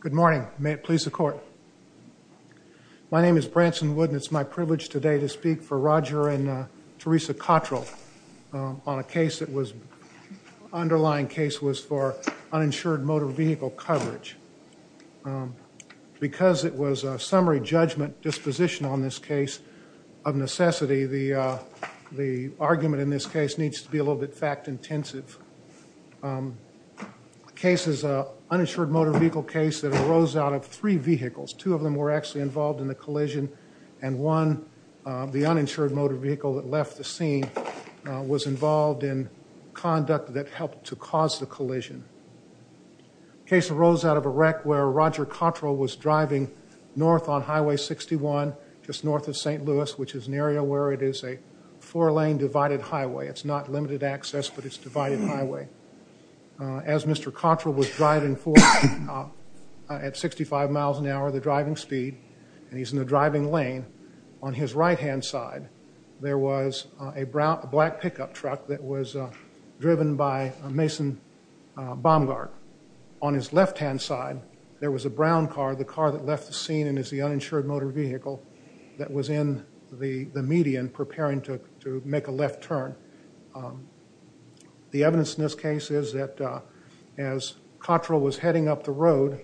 Good morning. May it please the court. My name is Branson Wood and it's my privilege today to speak for Roger and Teresa Cottrell on a case that was, underlying case was for uninsured motor vehicle coverage. Because it was a summary judgment disposition on this case of necessity, the argument in this case needs to be a little bit fact intensive. The case is an uninsured motor vehicle case that arose out of three vehicles. Two of them were actually involved in the collision and one, the uninsured motor vehicle that left the scene, was involved in conduct that helped to cause the collision. The case arose out of a wreck where Roger Cottrell was driving north on Highway 61, just north of St. Louis, which is an area where it is a four-lane divided highway. It's not limited access but it's divided highway. As Mr. Cottrell was driving forth at 65 miles an hour, the driving speed, and he's in the driving lane, on his right-hand side there was a black pickup truck that was on the right-hand side. There was a brown car, the car that left the scene and is the uninsured motor vehicle that was in the median preparing to make a left turn. The evidence in this case is that as Cottrell was heading up the road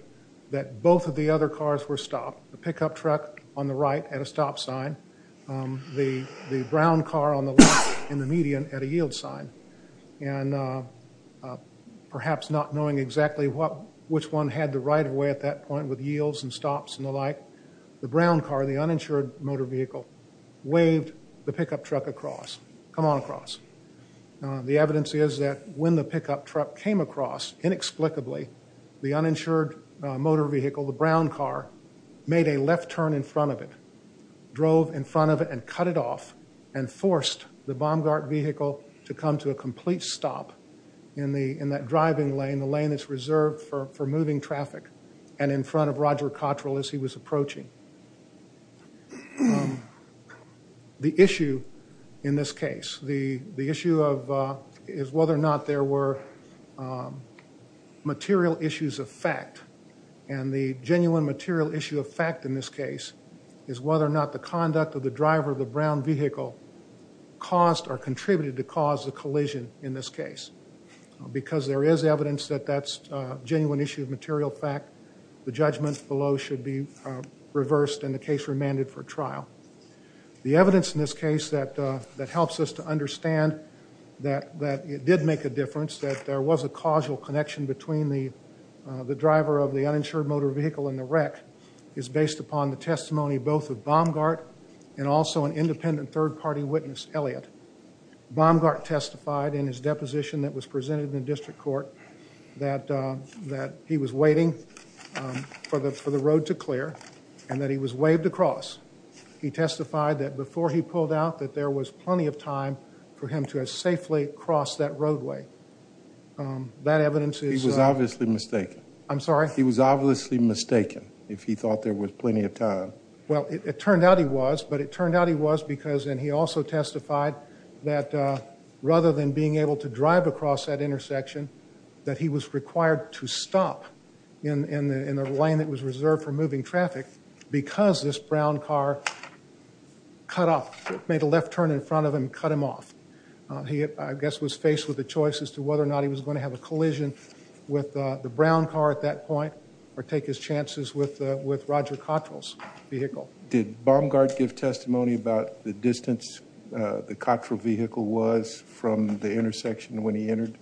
that both of the other cars were stopped. The pickup truck on the right at a stop sign, the brown car on the left in the median at a yield sign. And perhaps not knowing exactly which one had the right-of-way at that point with yields and stops and the like, the brown car, the uninsured motor vehicle, waved the pickup truck across, come on across. The evidence is that when the pickup truck came across, inexplicably, the uninsured motor vehicle, the brown car, made a left turn in to a complete stop in that driving lane, the lane that's reserved for moving traffic, and in front of Roger Cottrell as he was approaching. The issue in this case, the issue is whether or not there were material issues of fact. And the genuine material issue of fact in this case is whether or not the conduct of the driver of the brown vehicle caused or contributed to cause the collision in this case. Because there is evidence that that's a genuine issue of material fact, the judgment below should be reversed and the case remanded for trial. The evidence in this case that helps us to understand that it did make a difference, that there was a causal connection between the driver of the uninsured motor vehicle and the wreck is based upon the testimony both of Baumgart and also an independent third party witness, Elliott. Baumgart testified in his deposition that was presented in the district court that he was waiting for the road to clear and that he was waved across. He testified that before he pulled out that there was plenty of time for him to have safely crossed that roadway. That evidence is... He was obviously mistaken. I'm sorry? He was obviously mistaken if he thought there was plenty of time. Well, it turned out he was, but it turned out he was because and he also testified that rather than being able to drive across that intersection that he was required to stop in the lane that was reserved for moving traffic because this brown car cut off, made a left turn in front of him, cut off, I guess was faced with a choice as to whether or not he was going to have a collision with the brown car at that point or take his chances with Roger Cottrell's vehicle. Did Baumgart give testimony about the distance the Cottrell vehicle was from the intersection when he entered?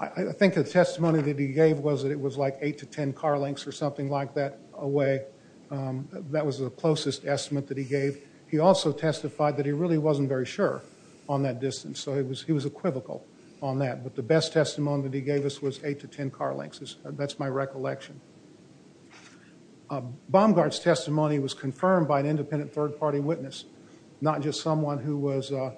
I think the testimony that he gave was that it was like 8 to 10 car lengths or something like that away. That was the closest estimate that he gave. He also testified that he really wasn't very sure on that distance, so he was equivocal on that, but the best testimony that he gave us was 8 to 10 car lengths. That's my recollection. Baumgart's testimony was confirmed by an independent third-party witness, not just someone who was a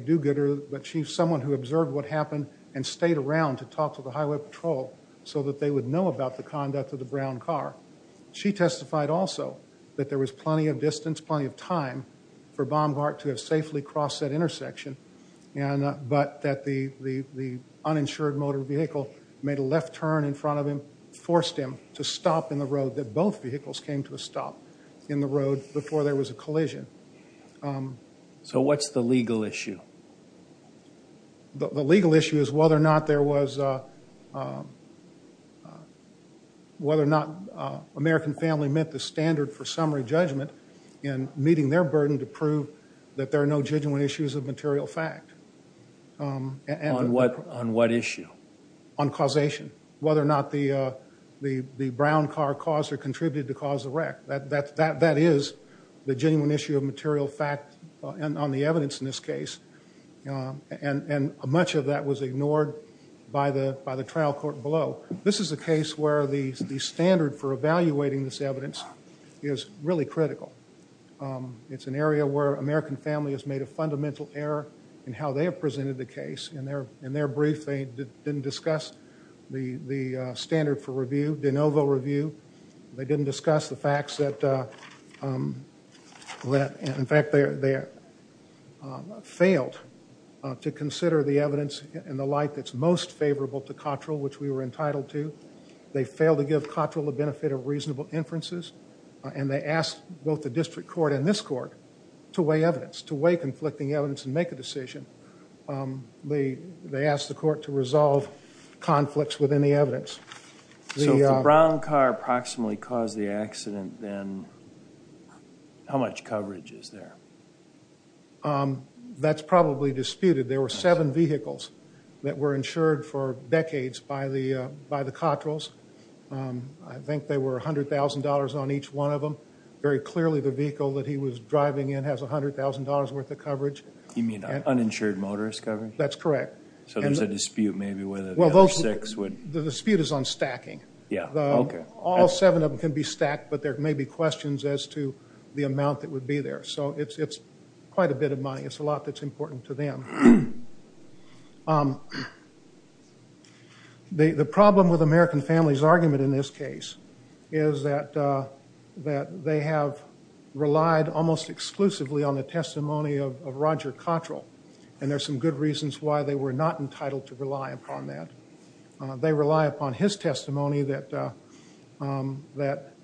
do-gooder, but someone who observed what happened and stayed around to talk to the highway patrol so that they would know about the conduct of the brown car. She testified also that there was plenty of distance, plenty of time for Baumgart to have safely crossed that intersection, but that the uninsured motor vehicle made a left turn in front of him, forced him to stop in the road, that both vehicles came to a stop in the road before there was a collision. So what's the legal issue? The legal issue is whether or not there met the standard for summary judgment in meeting their burden to prove that there are no genuine issues of material fact. On what issue? On causation, whether or not the brown car caused or contributed to cause the wreck. That is the genuine issue of material fact and on the evidence in this case, and much of that was ignored by the trial court below. This is a case where the standard for evaluating this evidence is really critical. It's an area where American Family has made a fundamental error in how they have presented the case. In their brief, they didn't discuss the standard for review, de novo review. They didn't discuss the facts that, in fact, they failed to consider the evidence in the light that's most favorable to Cotrell, which we were entitled to. They failed to give Cotrell the benefit of reasonable inferences and they asked both the district court and this court to weigh evidence, to weigh conflicting evidence and make a decision. They asked the court to resolve conflicts within the evidence. So if the brown car approximately caused the accident, then how much coverage is there? That's probably disputed. There were seven vehicles that were insured for decades by the Cotrells. I think they were $100,000 on each one of them. Very clearly the vehicle that he was driving in has $100,000 worth of coverage. You mean uninsured motorist coverage? That's correct. So there's a dispute maybe whether the other six would... The dispute is on stacking. All seven of them can be stacked, but there may be questions as to the amount that would be there. So it's quite a bit of money. It's a lot that's important to them. The problem with American Family's argument in this case is that they have relied almost exclusively on the testimony of Roger Cotrell. And there's some good reasons why they were not entitled to rely upon that. They rely upon his testimony that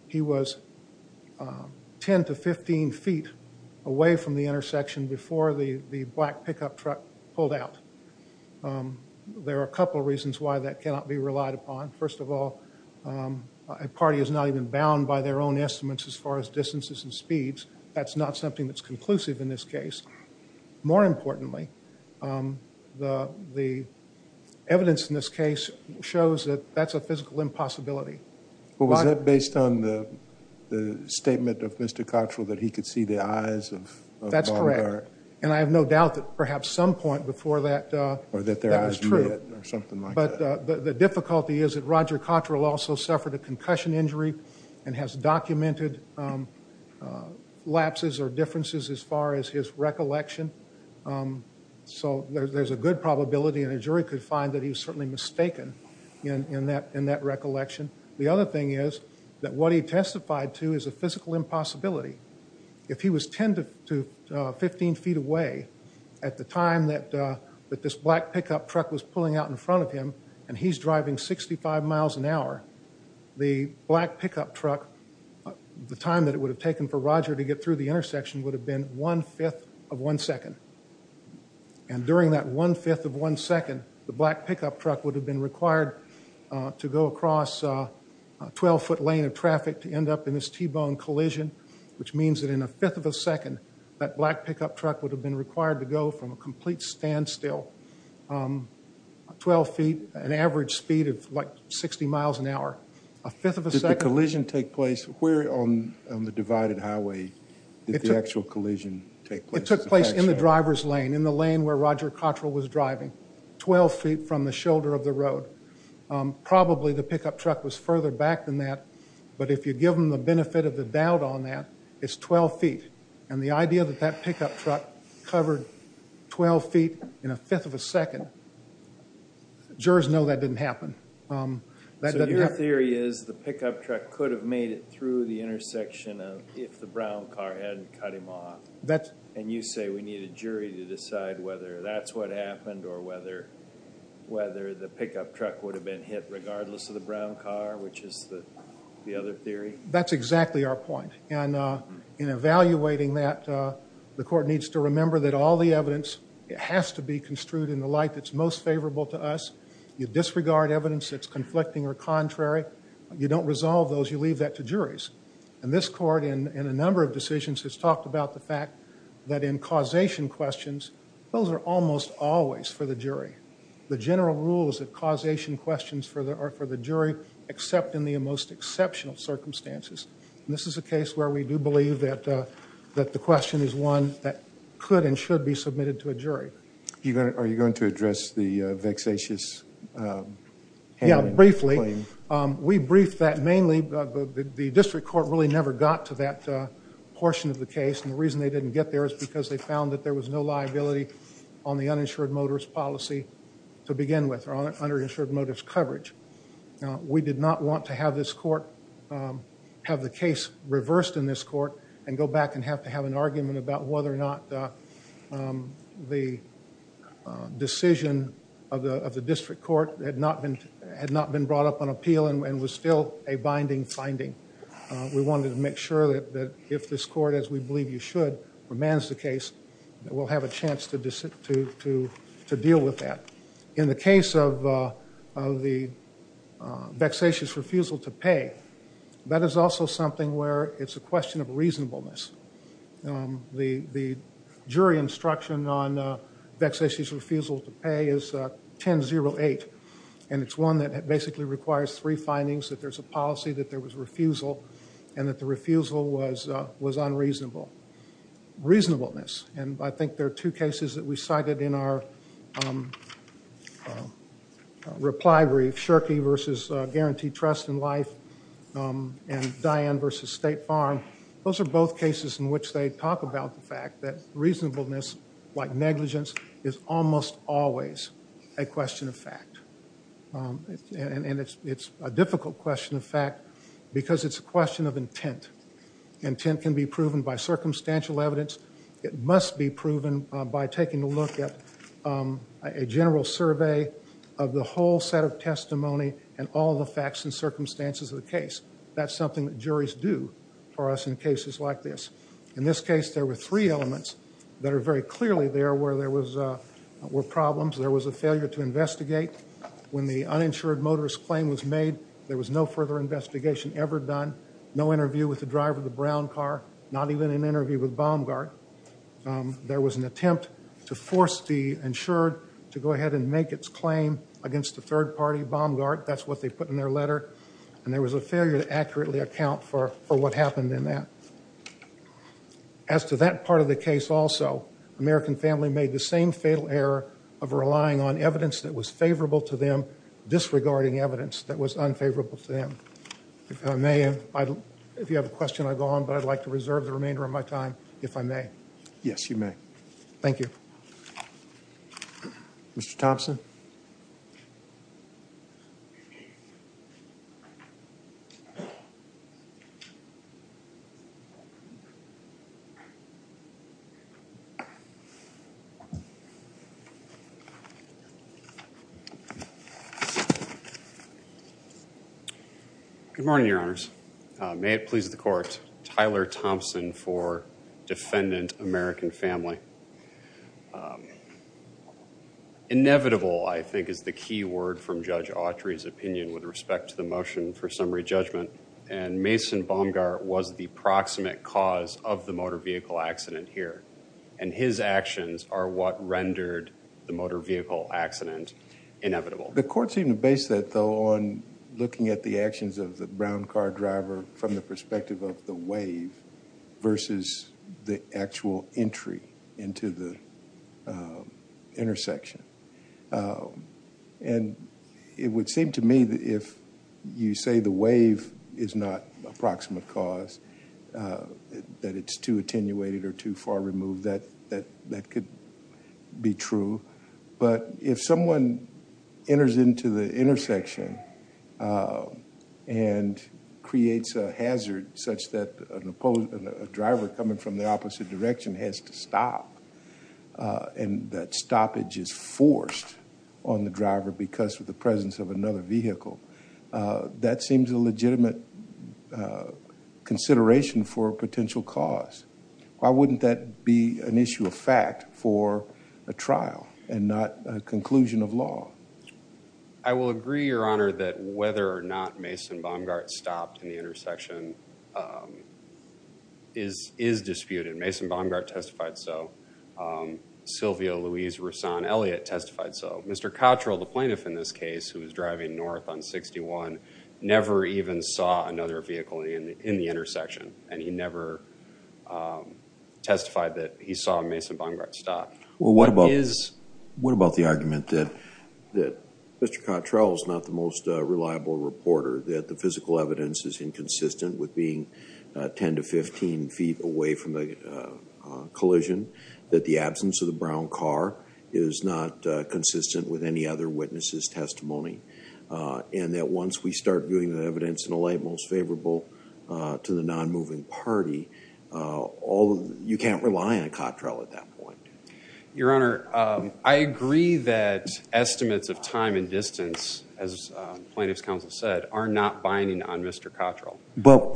he was 10 to 15 feet away from the intersection before the black pickup truck pulled out. There are a couple of reasons why that cannot be relied upon. First of all, a party is not even bound by their own estimates as far as distances and speeds. That's not something that's conclusive in this case. More importantly, the evidence in this case shows that that's a physical impossibility. Well, was that based on the statement of Mr. Cotrell that he could see the eyes of... That's correct. And I have no doubt that perhaps some point before that, that was true. Or that there was red or something like that. But the difficulty is that Roger Cotrell also suffered a concussion injury and has documented lapses or differences as far as his recollection. So there's a good probability and a jury could find that he was certainly mistaken in that recollection. The other thing is that what he testified to is a physical impossibility. If he was 10 to 15 feet away at the time that this black pickup truck was pulling out in front of him and he's driving 65 miles an hour, the black pickup truck, the time that it would have taken for Roger to get through the intersection would have been one-fifth of one second. And during that one-fifth of one second, the black pickup truck would have been required to go across a 12-foot lane of traffic to end up in this T-bone collision, which means that in a fifth of a second, that black pickup truck would have been required to go from a complete standstill, 12 feet, an average speed of like 60 miles an hour. A fifth of a second... Did the collision take place where on the divided highway? Did the actual collision take place? It took place in the driver's lane, in the lane where Roger Cottrell was driving, 12 feet from the shoulder of the road. Probably the pickup truck was further back than that, but if you give them the benefit of the doubt on that, it's 12 feet. And the idea that that pickup truck covered 12 feet in a fifth of a second, jurors know that didn't happen. So your theory is the pickup truck could have made it through the intersection if the brown car hadn't cut him off. And you say we need a jury to decide whether that's what happened or whether the pickup truck would have been hit regardless of the brown car, which is the other theory? That's exactly our point. And in evaluating that, the court needs to remember that all the evidence has to be construed in the light that's most favorable to us. You disregard evidence that's conflicting or contrary, you don't resolve those, you leave that to juries. And this court, in a number of decisions, has talked about the fact that in causation questions, those are almost always for the jury. The general rule is that causation questions are for the jury except in the most exceptional circumstances. And this is a case where we do believe that the question is one that could and should be submitted to a jury. Are you going to address the vexatious handling? Briefly, we briefed that mainly, the district court really never got to that portion of the case. And the reason they didn't get there is because they found that there was no liability on the uninsured motorist policy to begin with, or uninsured motorist coverage. We did not want to have the case reversed in this court and go back and have to have an argument about whether or not the decision of the district court had not been brought up on appeal and was still a binding finding. We wanted to make sure that if this court, as we believe you should, remands the case, that we'll have a chance to deal with that. In the case of the vexatious refusal to pay, that is also something where it's a question of reasonableness. The jury instruction on vexatious refusal to pay is 10-08, and it's one that basically requires three findings, that there's a policy, that there was refusal, and that the refusal was unreasonable. Reasonableness, and I think there are two cases that we cited in our reply brief, Shirky versus Guaranteed Trust in Life and Diane versus State Farm. Those are both cases in which they talk about the fact that reasonableness, like negligence, is almost always a question of fact. And it's a difficult question of fact because it's a question of intent. Intent can be proven by circumstantial evidence. It must be proven by taking a look at a general survey of the whole set of testimony and all the facts and all the cases like this. In this case, there were three elements that are very clearly there where there were problems. There was a failure to investigate. When the uninsured motorist claim was made, there was no further investigation ever done, no interview with the driver of the brown car, not even an interview with Baumgart. There was an attempt to force the insured to go ahead and make its claim against the third party, Baumgart. That's what they put in their letter. And there was a failure to accurately account for what happened in that. As to that part of the case also, American Family made the same fatal error of relying on evidence that was favorable to them, disregarding evidence that was unfavorable to them. If I may, if you have a question, I'll go on, but I'd like to reserve the remainder of my time, if I may. Yes, you may. Thank you. Mr. Thompson? Good morning, Your Honors. May it please the Court, Tyler Thompson for Defendant, American Family. Inevitable, I think, is the key word from Judge Autry's opinion with respect to the motion for summary judgment. And Mason Baumgart was the proximate cause of the motor vehicle accident here. And his actions are what rendered the motor vehicle accident inevitable. The Court seemed to base that, though, on looking at the actions of the brown car driver from the perspective of the wave versus the actual entry into the intersection. And it would seem to me that if you say the wave is not a proximate cause, that it's too attenuated or too far removed, that could be true. But if someone enters into the intersection and creates a hazard such that a driver coming from the opposite direction has to stop, and that stoppage is forced on the driver because of the presence of another vehicle, that seems a legitimate consideration for a potential cause. Why wouldn't that be an issue of fact for a trial and not a conclusion of law? I will agree, Your Honor, that whether or not Mason Baumgart stopped in the intersection is disputed. Mason Baumgart testified so. Silvio Luis Roussan Elliott testified so. Mr. Cottrell, the plaintiff in this case, who was driving north on 61, never even saw another vehicle in the intersection. And he never testified that he saw Mason Baumgart stop. Well, what about the argument that Mr. Cottrell is not the most reliable reporter, that the evidence is consistent with being 10 to 15 feet away from the collision, that the absence of the brown car is not consistent with any other witnesses' testimony, and that once we start viewing the evidence in a light most favorable to the non-moving party, you can't rely on Cottrell at that point? Your Honor, I agree that estimates of time and distance, as plaintiff's counsel said, are not binding on Mr. Cottrell. But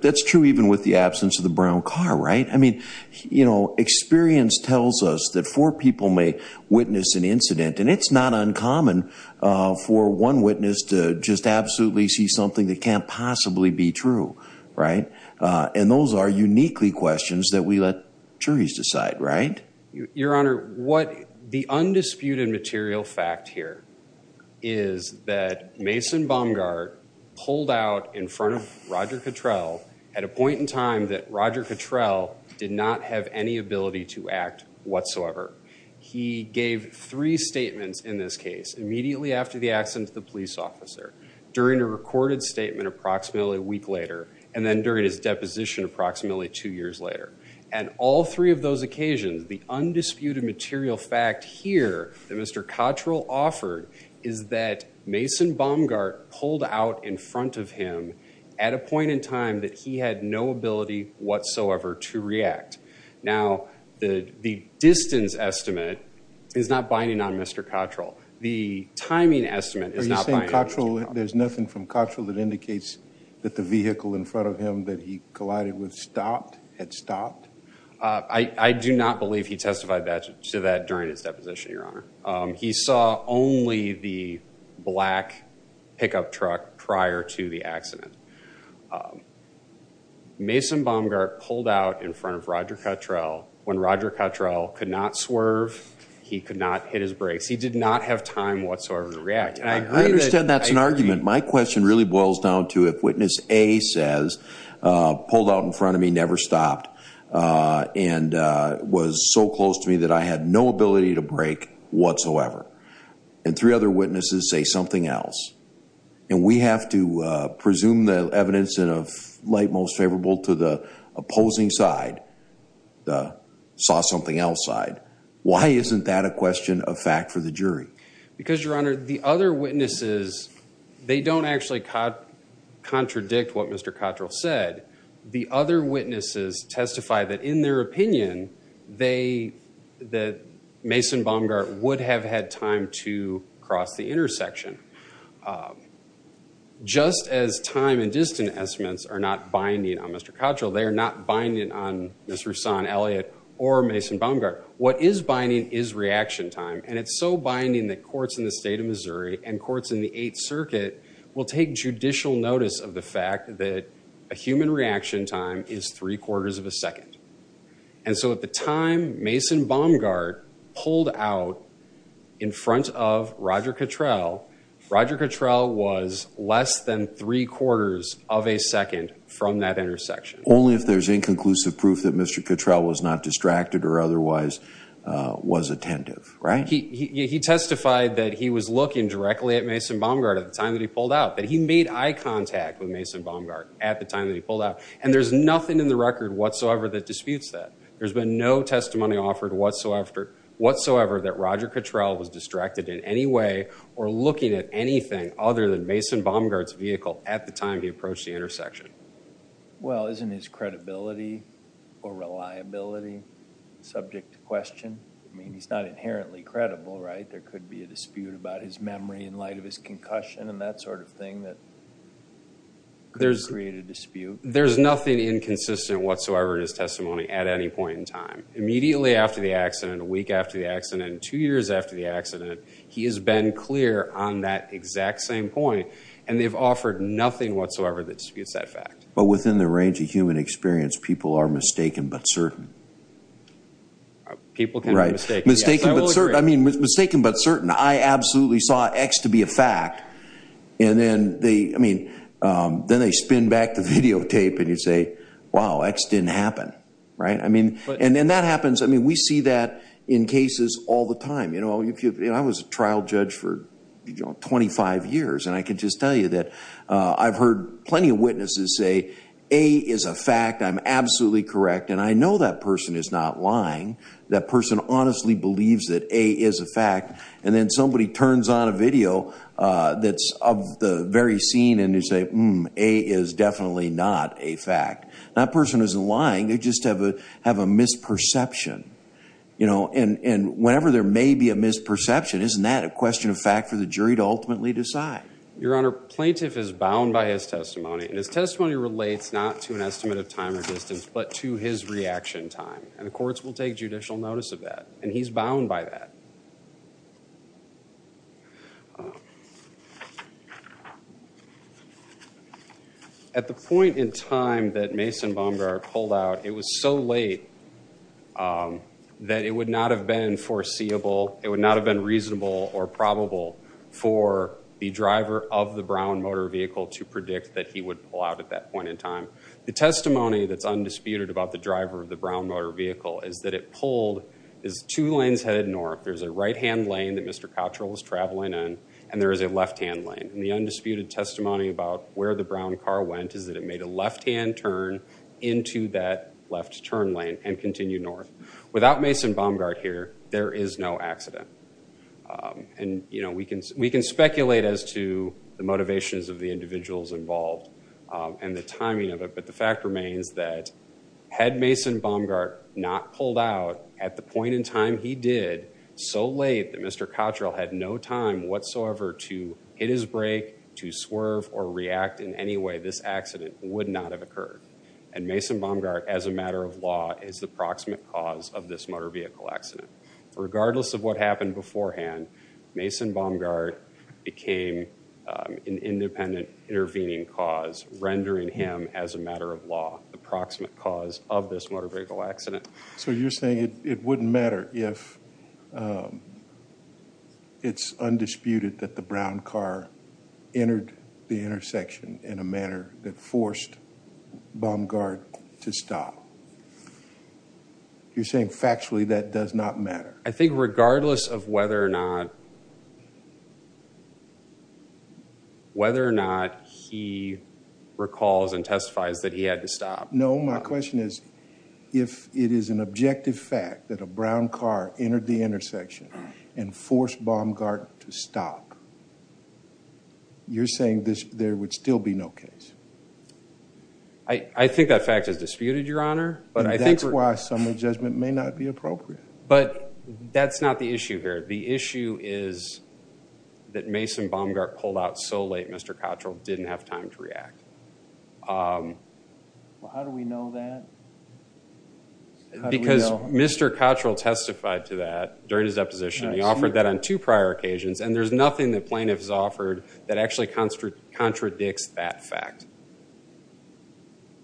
that's true even with the absence of the brown car, right? I mean, you know, experience tells us that four people may witness an incident, and it's not uncommon for one witness to just absolutely see something that can't possibly be true, right? And those are uniquely questions that we let juries decide, right? Your Honor, what the undisputed material fact here is that Mason Baumgart pulled out in front of Roger Cottrell at a point in time that Roger Cottrell did not have any ability to act whatsoever. He gave three statements in this case immediately after the accident to the police officer, during a recorded statement approximately a week later, and then during his deposition approximately two years later. And all three of those occasions, the undisputed material fact here that Mr. Cottrell offered is that Mason Baumgart pulled out in front of him at a point in time that he had no ability whatsoever to react. Now, the distance estimate is not binding on Mr. Cottrell. The timing estimate is not binding on Mr. Cottrell. So there's nothing from Cottrell that indicates that the vehicle in front of him that he collided with stopped, had stopped? I do not believe he testified to that during his deposition, Your Honor. He saw only the black pickup truck prior to the accident. Mason Baumgart pulled out in front of Roger Cottrell when Roger Cottrell could not swerve, he could not hit his brakes. He did not have time whatsoever to react. I understand that's an argument. My question really boils down to if witness A says, pulled out in front of me, never stopped, and was so close to me that I had no ability to brake whatsoever. And three other witnesses say something else. And we have to presume the evidence in a light most favorable to the opposing side, the saw something else side. Why isn't that a question of fact for the jury? Because, Your Honor, the other witnesses, they don't actually contradict what Mr. Cottrell said. The other witnesses testify that in their opinion, they, that Mason Baumgart would have had time to cross the intersection. Just as time and distance estimates are not binding on Mr. Cottrell, they are not binding on Ms. Roussan, Elliott, or Mason Baumgart. What is binding is reaction time. And it's so binding that courts in the state of Missouri and courts in the Eighth Circuit will take judicial notice of the fact that a human reaction time is three quarters of a second. And so at the time Mason Baumgart pulled out in front of Roger Cottrell, Roger Cottrell was less than three quarters of a second from that intersection. Only if there's inconclusive proof that Mr. Cottrell was not distracted or otherwise was attentive, right? He testified that he was looking directly at Mason Baumgart at the time that he pulled out, that he made eye contact with Mason Baumgart at the time that he pulled out. And there's nothing in the record whatsoever that disputes that. There's been no testimony offered whatsoever that Roger Cottrell was looking at anything other than Mason Baumgart's vehicle at the time he approached the intersection. Well, isn't his credibility or reliability subject to question? I mean, he's not inherently credible, right? There could be a dispute about his memory in light of his concussion and that sort of thing that could create a dispute. There's nothing inconsistent whatsoever in his testimony at any point in time. Immediately after the accident, a week after the accident, two years after the accident, he has been clear on that exact same point and they've offered nothing whatsoever that disputes that fact. But within the range of human experience, people are mistaken but certain. People can be mistaken, yes, I will agree. Mistaken but certain. I mean, mistaken but certain. I absolutely saw X to be a fact and then they, I mean, then they spin back the videotape and you say, wow, X didn't happen, right? I mean, and then that happens, I mean, we see that in cases all the time. You know, I was a trial judge for 25 years and I can just tell you that I've heard plenty of witnesses say, A is a fact, I'm absolutely correct and I know that person is not lying. That person honestly believes that A is a fact and then somebody turns on a video that's of the very scene and they say, A is definitely not a fact. That person isn't lying, they just have a misperception, you know, and whenever there may be a misperception, isn't that a question of fact for the jury to ultimately decide? Your Honor, plaintiff is bound by his testimony and his testimony relates not to an estimate of time or distance but to his reaction time and the courts will take judicial notice of that and he's bound by that. At the point in time that Mason Bomgar pulled out, it was so late that it would not have been foreseeable, it would not have been reasonable or probable for the driver of the Brown motor vehicle to predict that he would pull out at that point in time. The testimony that's undisputed about the driver of the Brown motor vehicle is that it pulled, is two lanes headed north. There's a right-hand lane that Mr. Cottrell was traveling in and there is a left-hand lane and the undisputed testimony about where the Brown car went is that it made a left-hand turn into that left turn lane and continued north. Without Mason Bomgar here, there is no accident and, you know, we can speculate as to the motivations of the individuals involved and the timing of it, but the fact remains that had Mason Bomgar not pulled out at the point in time he did, so late that Mr. Cottrell had no time whatsoever to hit his brake, to swerve or react in any way, this accident would not have occurred. And Mason Bomgar, as a matter of law, is the proximate cause of this motor vehicle accident. Regardless of what happened beforehand, Mason Bomgar became an independent intervening cause, rendering him as a matter of law, the proximate cause of this motor vehicle accident. So you're saying it wouldn't matter if it's undisputed that the Brown car entered the intersection in a manner that forced Bomgar to stop. You're saying factually that does not matter. I think regardless of whether or not, whether or not he recalls and testifies that he had to stop. No, my question is, if it is an objective fact that a Brown car entered the intersection and forced Bomgar to stop, you're saying there would still be no case. I think that fact is disputed, Your Honor. That's why a summary judgment may not be appropriate. But that's not the issue here. The issue is that Mason Bomgar pulled out so late Mr. Cottrell didn't have time to react. How do we know that? Because Mr. Cottrell testified to that during his deposition. He offered that on two prior occasions, and there's nothing that plaintiff has offered that actually contradicts that fact.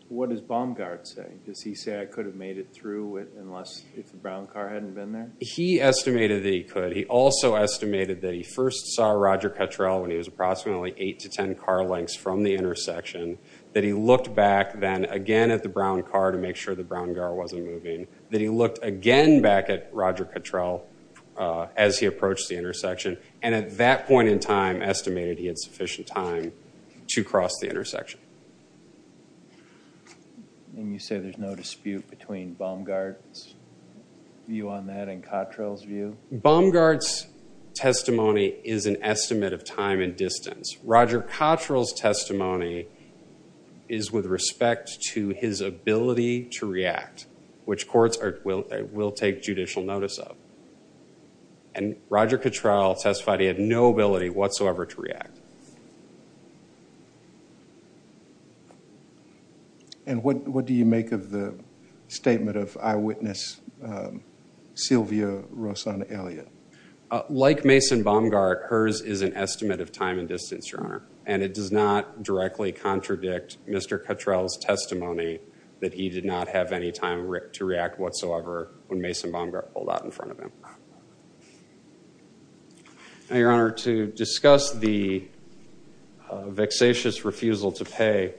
What does Bomgar say? Does he say I could have made it through unless if the Brown car hadn't been there? He estimated that he could. He also estimated that he first saw Roger Cottrell when he was approximately eight to ten car lengths from the intersection, that he looked back then again at the Brown car to make sure the Brown car wasn't moving, that he looked again back at Roger Cottrell as he approached the intersection, and at that point in time estimated he had sufficient time to cross the intersection. And you say there's no dispute between Bomgar's view on that and Cottrell's view? Bomgar's testimony is an estimate of time and distance. Roger Cottrell's testimony is with respect to his ability to react, which courts will take judicial notice of. And Roger Cottrell testified he had no ability whatsoever to react. And what do you make of the statement of eyewitness Sylvia Rosanna Elliott? Like Mason Bomgar, hers is an estimate of time and distance, Your Honor, and it does not directly contradict Mr. Cottrell's testimony that he did not have any time to react whatsoever when Mason Bomgar pulled out in front of him. Now, Your Honor, to discuss the vexatious refusal to pay,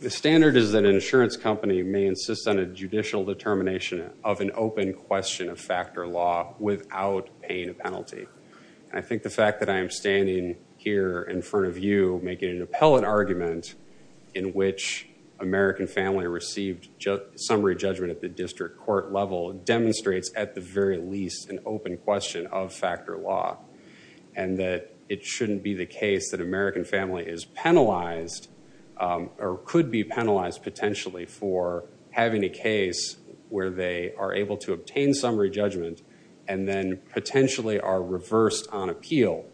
the standard is that an insurance company may insist on a judicial determination of an open question of fact or law without paying a penalty. I think the fact that I am standing here in front of you making an appellate argument in which American family received summary judgment at the district court level demonstrates at the very least an open question of fact or law and that it shouldn't be the case that American family is penalized or could be penalized potentially for having a case where they are able to obtain summary judgment and then potentially are reversed on appeal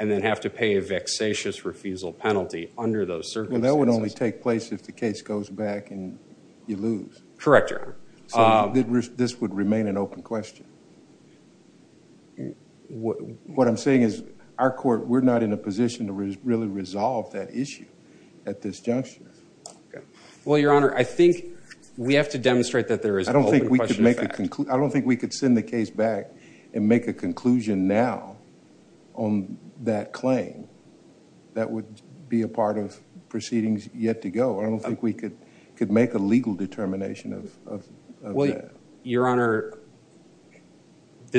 and then have to pay a vexatious refusal penalty under those circumstances. Well, that would only take place if the case goes back and you lose. Correct, Your Honor. So this would remain an open question. What I'm saying is our court, we're not in a position to really resolve that issue at this juncture. Well, Your Honor, I think we have to demonstrate that there is an open question of fact. I don't think we could send the case back and make a conclusion now on that claim. That would be a part of proceedings yet to go. I don't think we could make a legal determination of that. Well, Your Honor,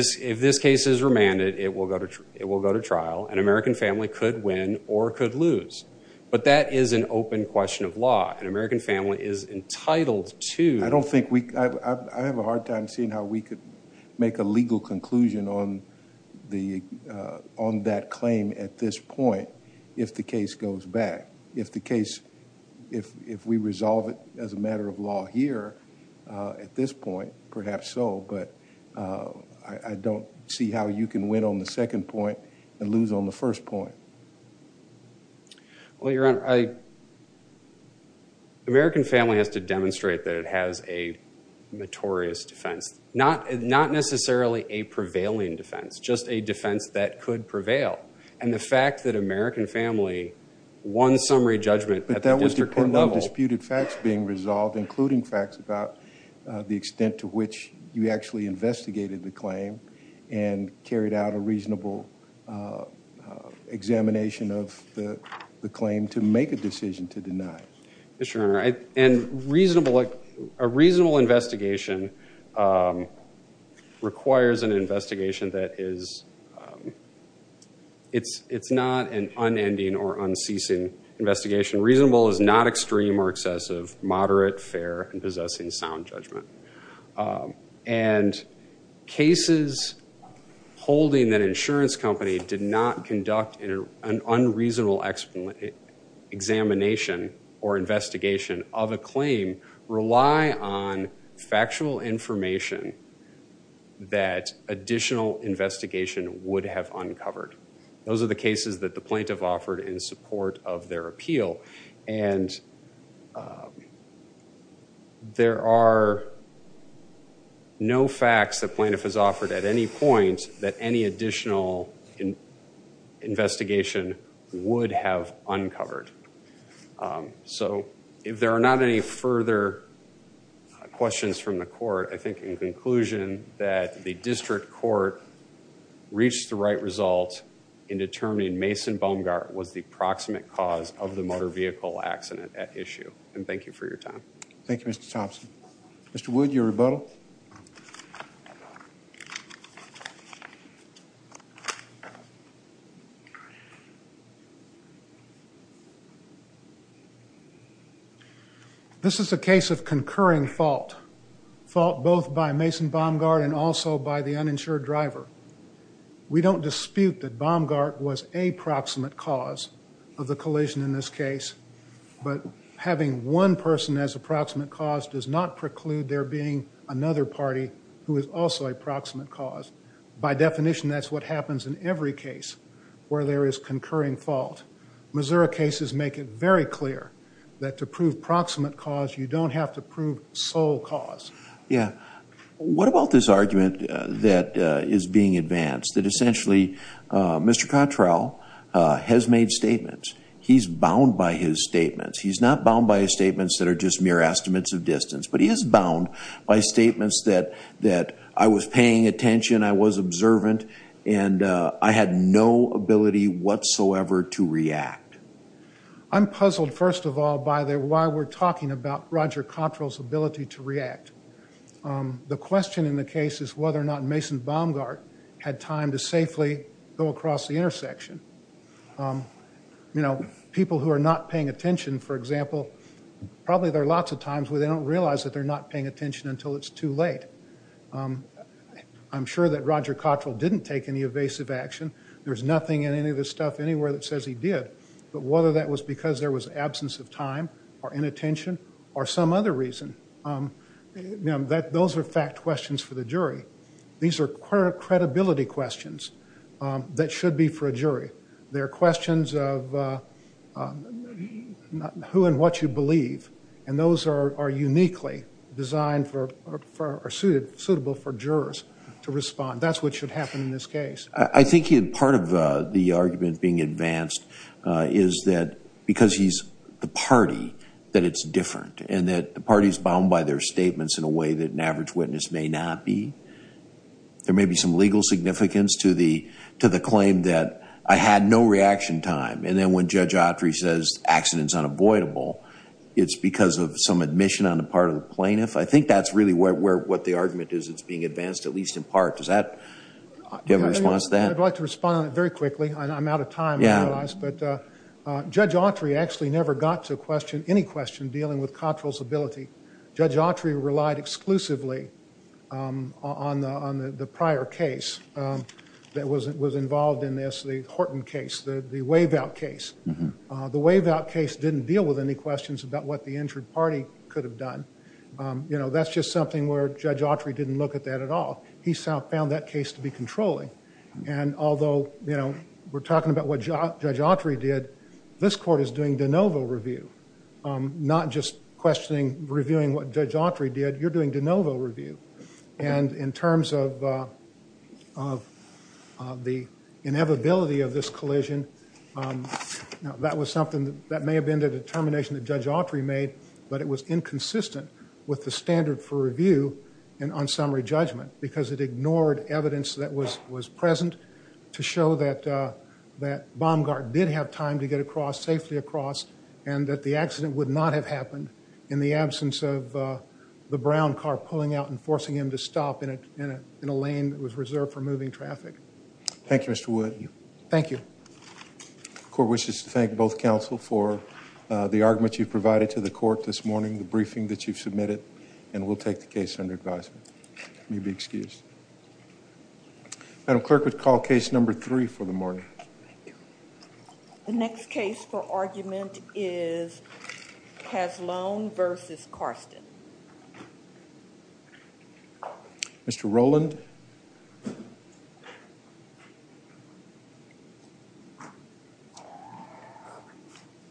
if this case is remanded, it will go to trial and American family could win or could lose. But that is an open question of law and American family is entitled to. I have a hard time seeing how we could make a legal conclusion on that claim at this point if the case goes back. If we resolve it as a matter of law here at this point, perhaps so, but I don't see how you can win on the second point and lose on the first point. Well, Your Honor, American family has to demonstrate that it has a notorious defense. Not necessarily a prevailing defense, just a defense that could prevail. And the fact that American family won summary judgment at the district court level. But that would depend on disputed facts being resolved, including facts about the extent to which you actually investigated the claim and carried out a reasonable examination of the claim to make a decision to deny it. Yes, Your Honor. And a reasonable investigation requires an investigation that is not an unending or unceasing investigation. Reasonable is not extreme or excessive, moderate, fair, and possessing sound judgment. And cases holding that insurance company did not conduct an unreasonable examination or investigation of a claim rely on factual information that additional investigation would have uncovered. Those are the cases that the plaintiff offered in support of their appeal. And there are no facts that plaintiff has offered at any point that any additional investigation would have uncovered. So if there are not any further questions from the court, I think in conclusion that the district court reached the right result in determining Mason Baumgart was the proximate cause of the motor vehicle accident at issue. And thank you for your time. Thank you, Mr. Thompson. Mr. Wood, your rebuttal. This is a case of concurring fault. Fault both by Mason Baumgart and also by the uninsured driver. We don't dispute that Baumgart was a proximate cause of the collision in this case. But having one person as a proximate cause does not preclude there being another party who is also a proximate cause. By definition, that's what happens in every case where there is concurring fault. Missouri cases make it very clear that to prove proximate cause, you don't have to prove sole cause. Yeah. What about this argument that is being advanced, that essentially Mr. Cottrell has made statements? He's bound by his statements. He's not bound by his statements that are just mere estimates of distance, but he is bound by statements that I was paying attention, I was observant, and I had no ability whatsoever to react. I'm puzzled, first of all, by why we're talking about Roger Cottrell's ability to react. The question in the case is whether or not Mason Baumgart had time to safely go across the intersection. People who are not paying attention, for example, probably there are lots of times where they don't realize that they're not paying attention until it's too late. I'm sure that Roger Cottrell didn't take any evasive action. There's nothing in any of this stuff anywhere that says he did, but whether that was because there was absence of time or inattention or some other reason, those are fact questions for the jury. These are credibility questions that should be for a jury. They are questions of who and what you believe, and those are uniquely designed or suitable for jurors to respond. That's what should happen in this case. I think part of the argument being advanced is that because he's the party, that it's different, and that the party is bound by their statements in a way that an average witness may not be. There may be some legal significance to the claim that I had no reaction time, and then when Judge Autry says accidents unavoidable, it's because of some admission on the part of the plaintiff. I think that's really what the argument is that's being advanced, at least in part. Does that give a response to that? I'd like to respond very quickly. I'm out of time, I realize, but Judge Autry actually never got to any question dealing with Cottrell's ability. Judge Autry relied exclusively on the prior case that was involved in this, the Horton case, the wave-out case. The wave-out case didn't deal with any questions about what the injured party could have done. That's just something where Judge Autry didn't look at that at all. He found that case to be controlling, and although we're talking about what Judge Autry did, this court is doing de novo review, not just questioning, reviewing what Judge Autry did. You're doing de novo review, and in terms of the inevitability of this collision, that was something that may have been the determination that Judge Autry made, but it was inconsistent with the standard for review on summary judgment because it ignored evidence that was present to show that Baumgart did have time to get across, safely across, and that the accident would not have happened in the absence of the brown car pulling out and forcing him to stop in a lane that was reserved for moving traffic. Thank you, Mr. Wood. Thank you. The court wishes to thank both counsel for the argument you've provided to the court this morning, the briefing that you've submitted, and we'll take the case under advisement. You may be excused. Madam Clerk, we'll call case number three for the morning. The next case for argument is Caslone v. Karsten. Mr. Rowland.